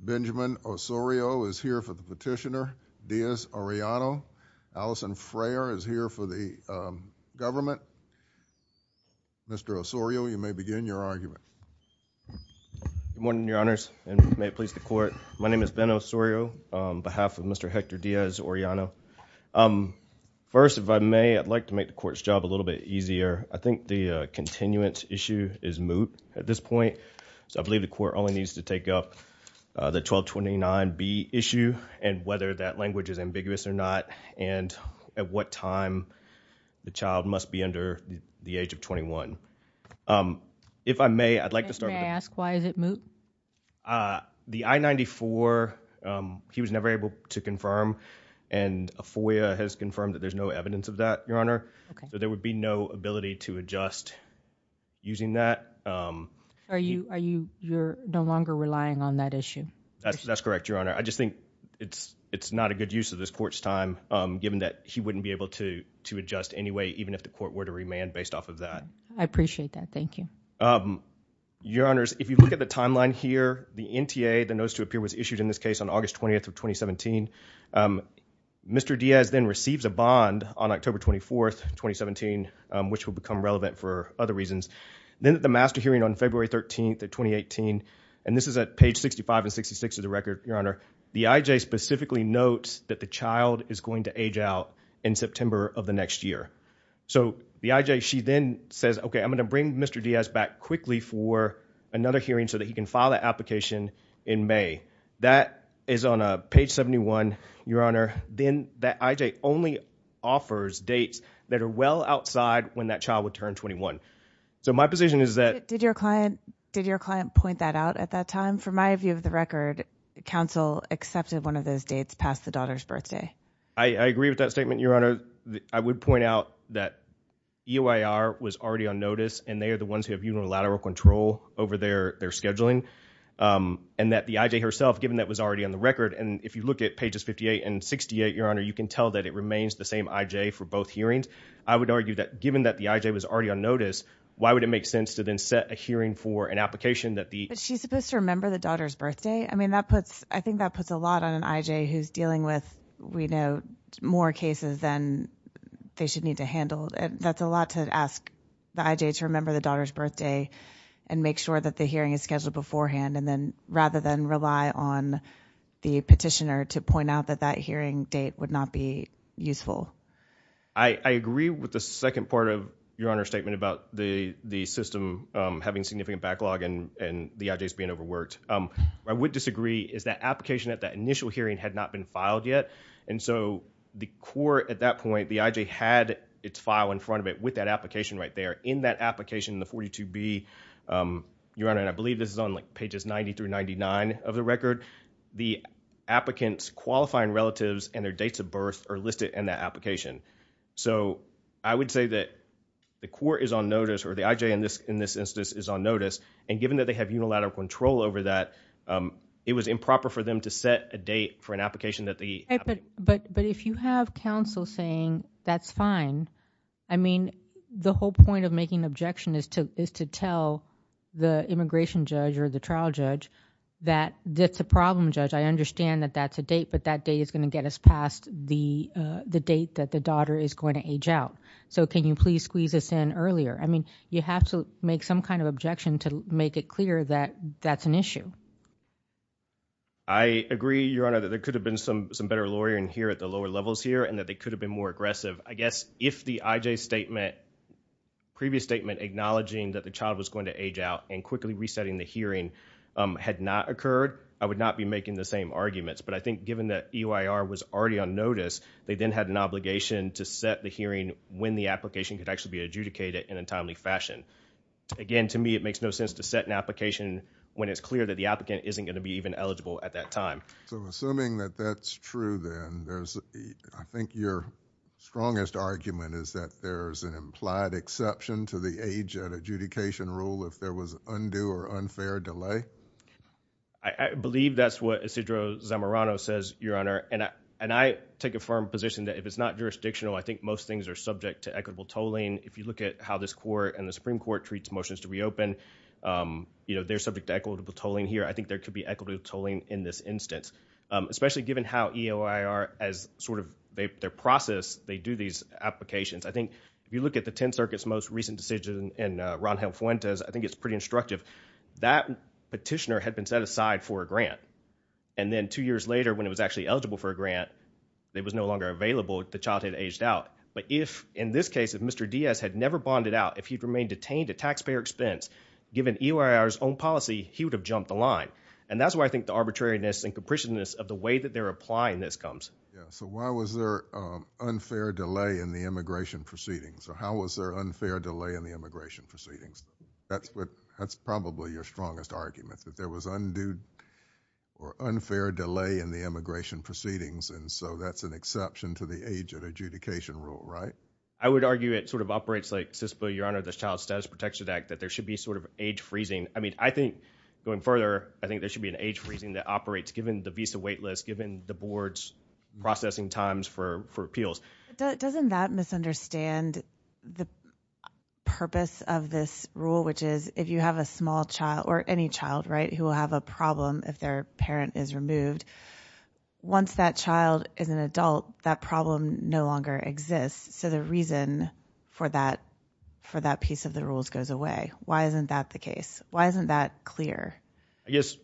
Benjamin Osorio is here for the petitioner. Diaz-Arellano. Allison Frayer is here for the government. Mr. Osorio, you may begin your argument. Good morning, your honors, and may it please the court. My name is Ben Osorio on behalf of Mr. Hector Diaz-Arellano. First, if I may, I'd like to make the court's job a little bit easier. I think the continuance issue is moot at this point, so I believe the court only needs to take up the 1229B issue and whether that language is ambiguous or not, and at what time the child must be under the age of I-94, he was never able to confirm, and a FOIA has confirmed that there's no evidence of that, your honor, so there would be no ability to adjust using that. Are you no longer relying on that issue? That's correct, your honor. I just think it's it's not a good use of this court's time, given that he wouldn't be able to to adjust anyway, even if the court were to remand based off of that. I appreciate that, thank you. Your honors, if you look at the timeline here, the NTA, the notice to appear, was issued in this case on August 20th of 2017. Mr. Diaz then receives a bond on October 24th, 2017, which will become relevant for other reasons. Then at the master hearing on February 13th of 2018, and this is at page 65 and 66 of the record, your honor, the IJ specifically notes that the child is going to age out in September of the next year, so the IJ, she then says, okay, I'm gonna bring Mr. Diaz back quickly for another hearing so that he can file that application in May. That is on a page 71, your honor. Then that IJ only offers dates that are well outside when that child would turn 21, so my position is that... Did your client point that out at that time? From my view of the record, counsel accepted one of those dates past the daughter's birthday. I agree with that statement, your honor. I would point out that EOIR was already on notice and they are the ones who have unilateral control over their scheduling, and that the IJ herself, given that was already on the record, and if you look at pages 58 and 68, your honor, you can tell that it remains the same IJ for both hearings. I would argue that given that the IJ was already on notice, why would it make sense to then set a hearing for an application that the... But she's supposed to remember the daughter's birthday? I mean, I think that puts a lot on an IJ who's dealing with, we know, more cases than they should need to handle, and that's a lot to ask the IJ to remember the daughter's birthday and make sure that the hearing is scheduled beforehand, and then rather than rely on the petitioner to point out that that hearing date would not be useful. I agree with the second part of your honor's statement about the system having significant backlog and the IJs being overworked. What I would disagree is that application at that initial hearing had not been filed yet, and so the court at that point, the IJ had its file in front of it with that application right there. In that application, the 42B, your honor, and I believe this is on like pages 90 through 99 of the record, the applicants qualifying relatives and their dates of birth are listed in that application. So I would say that the court is on notice, or the IJ in this instance is on notice, and given that they have no lateral control over that, it was improper for them to set a date for an application that they... But if you have counsel saying that's fine, I mean, the whole point of making an objection is to tell the immigration judge or the trial judge that that's a problem, judge. I understand that that's a date, but that date is going to get us past the date that the daughter is going to age out. So can you please squeeze this in earlier? I mean, you have to make some kind of objection to make it clear that that's an issue. I agree, your honor, that there could have been some better lawyering here at the lower levels here, and that they could have been more aggressive. I guess if the IJ's previous statement acknowledging that the child was going to age out and quickly resetting the hearing had not occurred, I would not be making the same arguments. But I think given that EYR was already on notice, they then had an obligation to set the hearing when the application could actually be And to me, it makes no sense to set an application when it's clear that the applicant isn't going to be even eligible at that time. So assuming that that's true, then, I think your strongest argument is that there's an implied exception to the age at adjudication rule if there was undue or unfair delay? I believe that's what Isidro Zamorano says, your honor, and I take a firm position that if it's not jurisdictional, I think most things are subject to equitable tolling. If you look at how this court and the Supreme Court treats motions to reopen, they're subject to equitable tolling here. I think there could be equitable tolling in this instance. Especially given how EYR, as sort of their process, they do these applications. I think if you look at the Tenth Circuit's most recent decision in Ron Helm Fuentes, I think it's pretty instructive. That petitioner had been set aside for a grant, and then two years later, when it was actually eligible for a grant, it was no longer available, the child had aged out. But if, in this case, if Mr. Diaz had never bonded out, if he had never bonded out, given EYR's own policy, he would have jumped the line. And that's why I think the arbitrariness and capriciousness of the way that they're applying this comes. Yeah, so why was there unfair delay in the immigration proceedings? Or how was there unfair delay in the immigration proceedings? That's probably your strongest argument, that there was undue or unfair delay in the immigration proceedings, and so that's an exception to the age at adjudication rule, right? I would argue it sort of operates like CISPA, your honor, the Child Status Protection Act, that there should be sort of age freezing. I mean, I think, going further, I think there should be an age freezing that operates, given the visa waitlist, given the board's processing times for appeals. Doesn't that misunderstand the purpose of this rule, which is, if you have a small child, or any child, right, who will have a problem if their parent is removed, once that child is an adult, that problem no longer exists. So the reason for that piece of the rules goes away. Why isn't that the case? Why isn't that clear? I guess,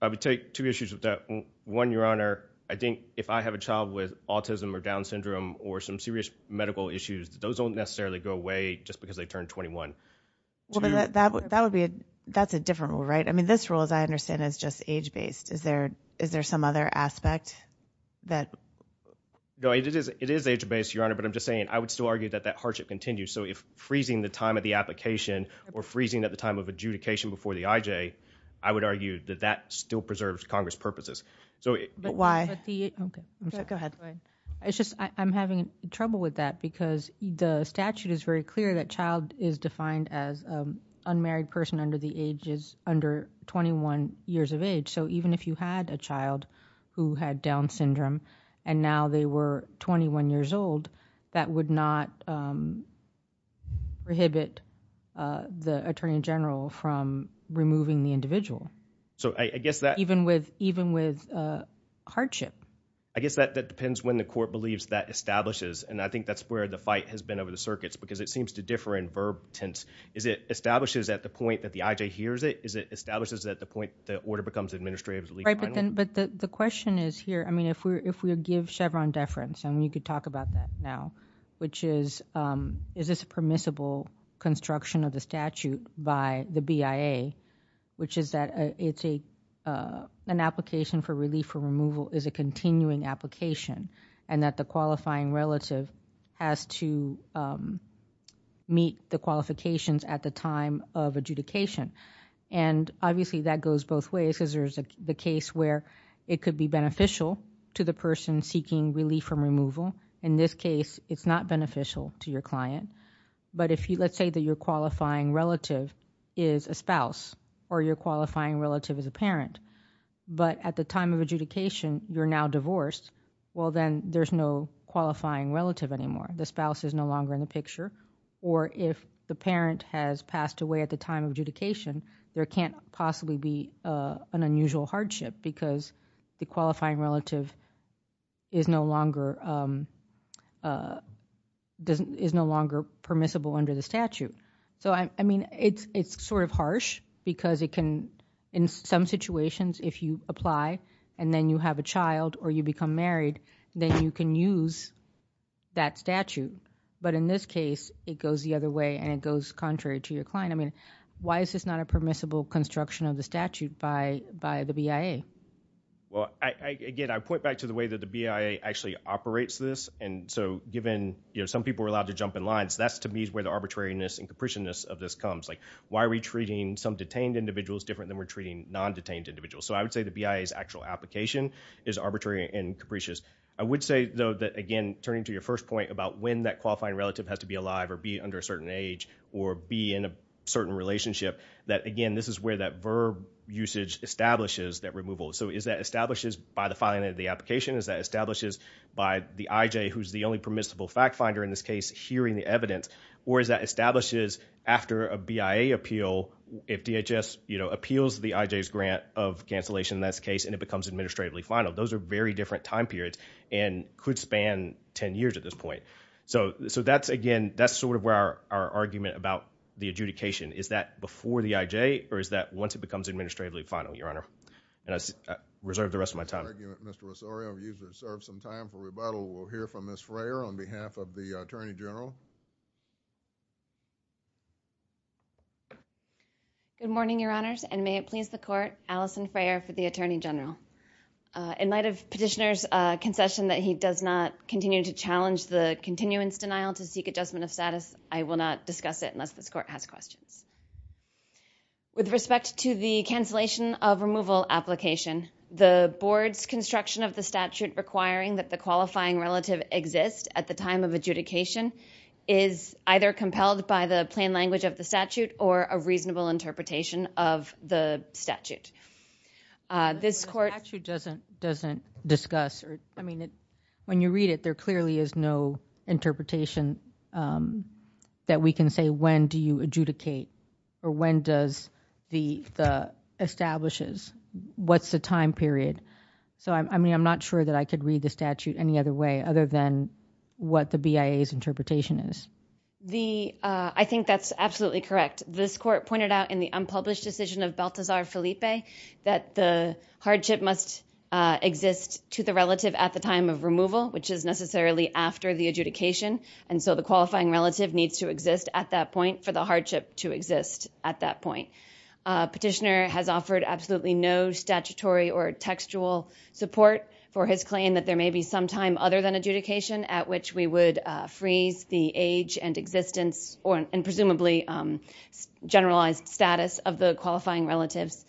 I would take two issues with that. One, your honor, I think if I have a child with autism, or Down syndrome, or some serious medical issues, those don't necessarily go away just because they turn 21. That would be, that's a different rule, right? I mean, this rule, as I understand it, is just age-based. Is there some other aspect that... No, it is age-based, your honor, but I'm going to continue. So if freezing the time of the application, or freezing at the time of adjudication before the IJ, I would argue that that still preserves Congress purposes. But why? Okay, go ahead. It's just, I'm having trouble with that because the statute is very clear that child is defined as unmarried person under the ages, under 21 years of age. So even if you had a child who had Down syndrome, and now they were 21 years old, that would not prohibit the Attorney General from removing the individual. So I guess that... Even with, even with hardship. I guess that depends when the court believes that establishes, and I think that's where the fight has been over the circuits, because it seems to differ in verb tense. Is it establishes at the point that the IJ hears it? Is it establishes at the point the order becomes administrative? Right, but then, but the question is here, I mean, if we're, if we give Chevron deference, and you could talk about that now, which is, is this permissible construction of the statute by the BIA, which is that it's a, an application for relief for removal is a continuing application, and that the qualifying relative has to meet the qualifications at the time of adjudication. And obviously that goes both ways, because there's a case where it could be beneficial to the person seeking relief from removal. In this case, it's not beneficial to your client. But if you, let's say that your qualifying relative is a spouse, or you're qualifying relative as a parent, but at the time of adjudication you're now divorced, well then there's no qualifying relative anymore. The spouse is no longer in the picture, or if the parent has passed away at the time of adjudication, there can't possibly be an unusual hardship, because the qualifying relative is no longer, is no longer permissible under the statute. So I mean, it's, it's sort of harsh, because it can, in some situations, if you apply, and then you have a child, or you become married, then you can use that statute. But in this case, it goes the other way, and it goes contrary to your client. I mean, why is this not a permissible construction of the statute by, by the BIA? Well, again, I point back to the way that the BIA actually operates this, and so given, you know, some people are allowed to jump in lines, that's to me where the arbitrariness and capriciousness of this comes. Like, why are we treating some detained individuals different than we're treating non-detained individuals? So I would say the BIA's actual application is arbitrary and capricious. I would say, though, that again, turning to your first point about when that qualifying relative has to be alive, or be under a certain age, or be in a position, that again, this is where that VERB usage establishes that removal. So is that established by the filing of the application? Is that established by the IJ, who's the only permissible fact-finder in this case, hearing the evidence? Or is that established after a BIA appeal, if DHS, you know, appeals the IJ's grant of cancellation in this case, and it becomes administratively final? Those are very different time periods, and could span 10 years at this point. So, so that's, again, that's sort of where our, our argument about the IJ, or is that once it becomes administratively final, Your Honor? And I reserve the rest of my time. Mr. Rosario, you've reserved some time for rebuttal. We'll hear from Ms. Freyer on behalf of the Attorney General. Good morning, Your Honors, and may it please the Court, Alison Freyer for the Attorney General. In light of Petitioner's concession that he does not continue to challenge the continuance denial to seek adjustment of With respect to the cancellation of removal application, the Board's construction of the statute requiring that the qualifying relative exist at the time of adjudication is either compelled by the plain language of the statute, or a reasonable interpretation of the statute. This Court... The statute doesn't, doesn't discuss, or, I mean, when you read it, there clearly is no interpretation that we can say when do you adjudicate, or when does the, the establishes, what's the time period. So, I mean, I'm not sure that I could read the statute any other way, other than what the BIA's interpretation is. The, I think that's absolutely correct. This Court pointed out in the unpublished decision of Balthazar Felipe that the hardship must exist to the relative at the time of removal, which is necessarily after the adjudication, and so the qualifying relative needs to exist at that point for the hardship to exist at that point. Petitioner has offered absolutely no statutory or textual support for his claim that there may be some time other than adjudication at which we would freeze the age and existence, or, and presumably generalized status of the qualifying relatives.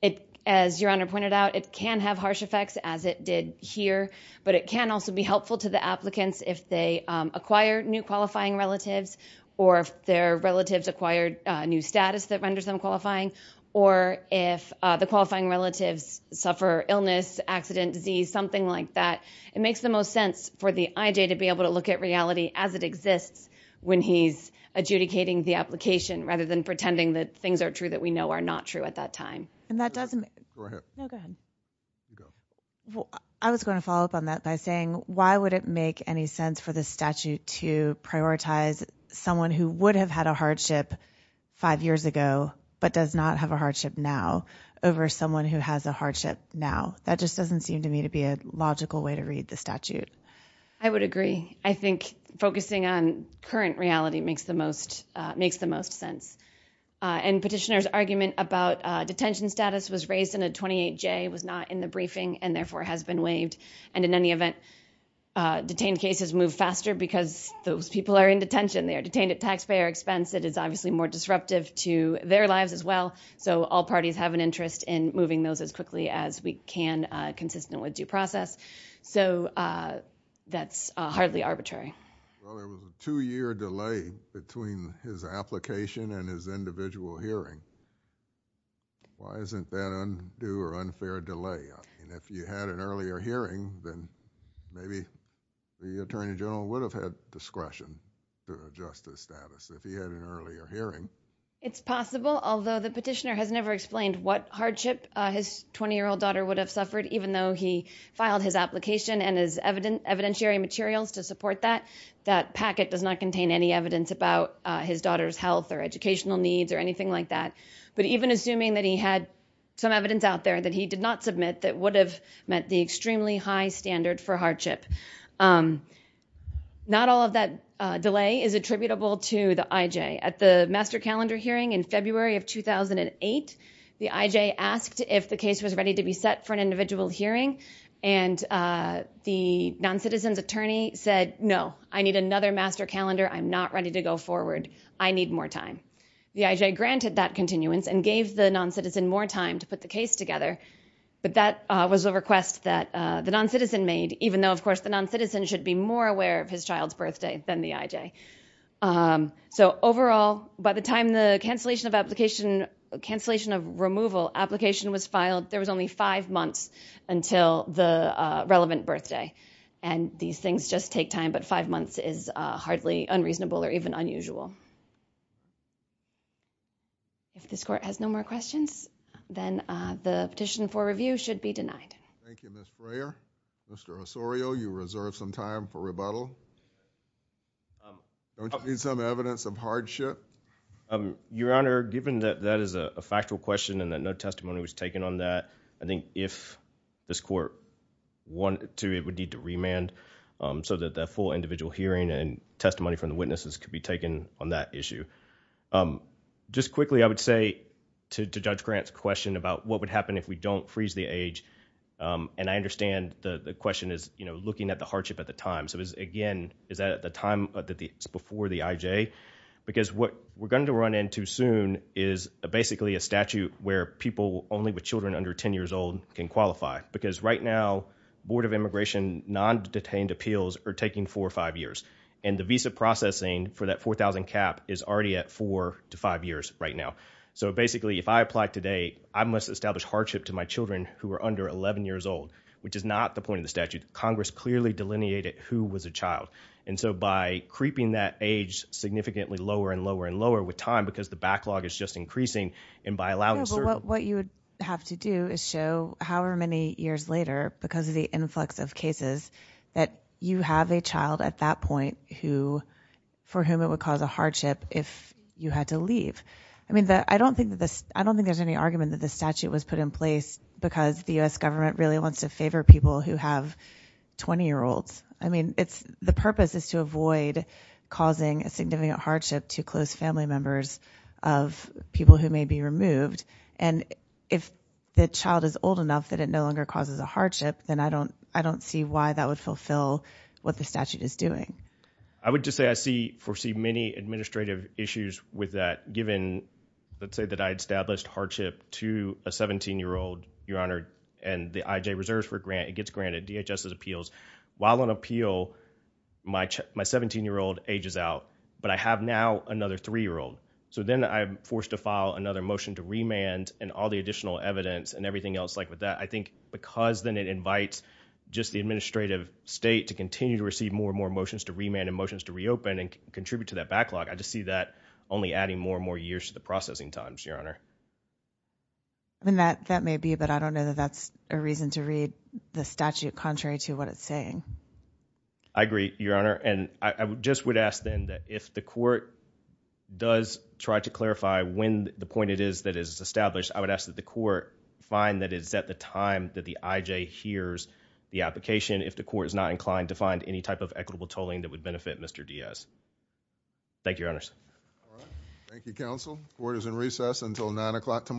It, as Your Honor pointed out, it can have harsh effects as it did here, but it can also be helpful to the applicants if they acquire new qualifying relatives, or if their relatives acquired a new status that renders them qualifying, or if the qualifying relatives suffer illness, accident, disease, something like that. It makes the most sense for the IJ to be able to look at reality as it exists when he's adjudicating the application rather than pretending that things are true that we know are not true at that point. I was going to follow up on that by saying why would it make any sense for this statute to prioritize someone who would have had a hardship five years ago but does not have a hardship now over someone who has a hardship now? That just doesn't seem to me to be a logical way to read the statute. I would agree. I think focusing on current reality makes the most, makes the most sense, and Petitioner's argument about detention status was raised in a 28-J, was not in the briefing, and therefore has been waived, and in any event, detained cases move faster because those people are in detention. They are detained at taxpayer expense. It is obviously more disruptive to their lives as well, so all parties have an interest in moving those as quickly as we can consistent with due process, so that's hardly arbitrary. Well, there was a two-year delay between his application and his individual hearing. Why isn't that undue or unfair delay? I mean, if you had an earlier hearing, then maybe the Attorney General would have had discretion to adjust his status if he had an earlier hearing. It's possible, although the Petitioner has never explained what hardship his 20-year-old daughter would have suffered even though he filed his application and his evidentiary materials to support that, that packet does not contain any evidence about his daughter's health or But even assuming that he had some evidence out there that he did not submit that would have met the extremely high standard for hardship, not all of that delay is attributable to the IJ. At the master calendar hearing in February of 2008, the IJ asked if the case was ready to be set for an individual hearing, and the noncitizen's attorney said, no, I need another master calendar. I'm not ready to go forward. I need more time. The IJ granted that continuance and gave the noncitizen more time to put the case together, but that was a request that the noncitizen made, even though, of course, the noncitizen should be more aware of his child's birthday than the IJ. So overall, by the time the cancellation of removal application was filed, there was only five months until the relevant birthday, and these things just take time, but five months is hardly unreasonable or even unusual. If this court has no more questions, then the petition for review should be denied. Thank you, Ms. Brayer. Mr. Osorio, you reserve some time for rebuttal. Don't you need some evidence of hardship? Your Honor, given that that is a factual question and that no testimony was taken on that, I think if this court wanted to, it would need to remand so that that full individual hearing and testimony from the witnesses could be taken on that issue. Just quickly, I would say to Judge Grant's question about what would happen if we don't freeze the age, and I understand the question is looking at the hardship at the time. So again, is that at the time before the IJ? Because what we're going to run into soon is basically a statute where people only with children under ten years old can qualify, because right now, Board of Immigration non-detained appeals are taking four or five years, and the visa processing for that 4,000 cap is already at four to five years right now. So basically, if I apply today, I must establish hardship to my children who are under 11 years old, which is not the point of the statute. Congress clearly delineated who was a child. And so by creeping that age significantly lower and lower and lower with time because the backlog is just increasing, and by allowing certain What you would have to do is show how many years later, because of the influx of cases, that you have a child at that point for whom it would cause a hardship if you had to leave. I don't think there's any argument that the statute was put in place because the U.S. government really wants to favor people who have 20-year-olds. The purpose is to avoid causing a significant hardship to close family members of people who may be removed, and if the child is old enough that it no longer causes a hardship, then I don't see why that would fulfill what the statute is doing. I would just say I foresee many administrative issues with that, given, let's say that I established hardship to a 17-year-old, Your Honor, and the IJ reserves for a grant, it gets granted, DHS's appeals. While on appeal, my 17-year-old ages out, but I have now another 3-year-old. So then I'm forced to file another motion to remand and all the additional evidence and everything else like with that, I think because then it invites just the administrative state to continue to receive more and more motions to remand and motions to reopen and contribute to that backlog, I just see that only adding more and more years to the processing times, Your Honor. That may be, but I don't know that that's a reason to read the statute contrary to what it's saying. I agree, Your Honor, and I just would ask then that if the court does try to find that it's at the time that the IJ hears the application, if the court is not inclined to find any type of equitable tolling that would benefit Mr. Diaz. Thank you, Your Honors. All right. Thank you, counsel. Court is in recess until 9 o'clock tomorrow.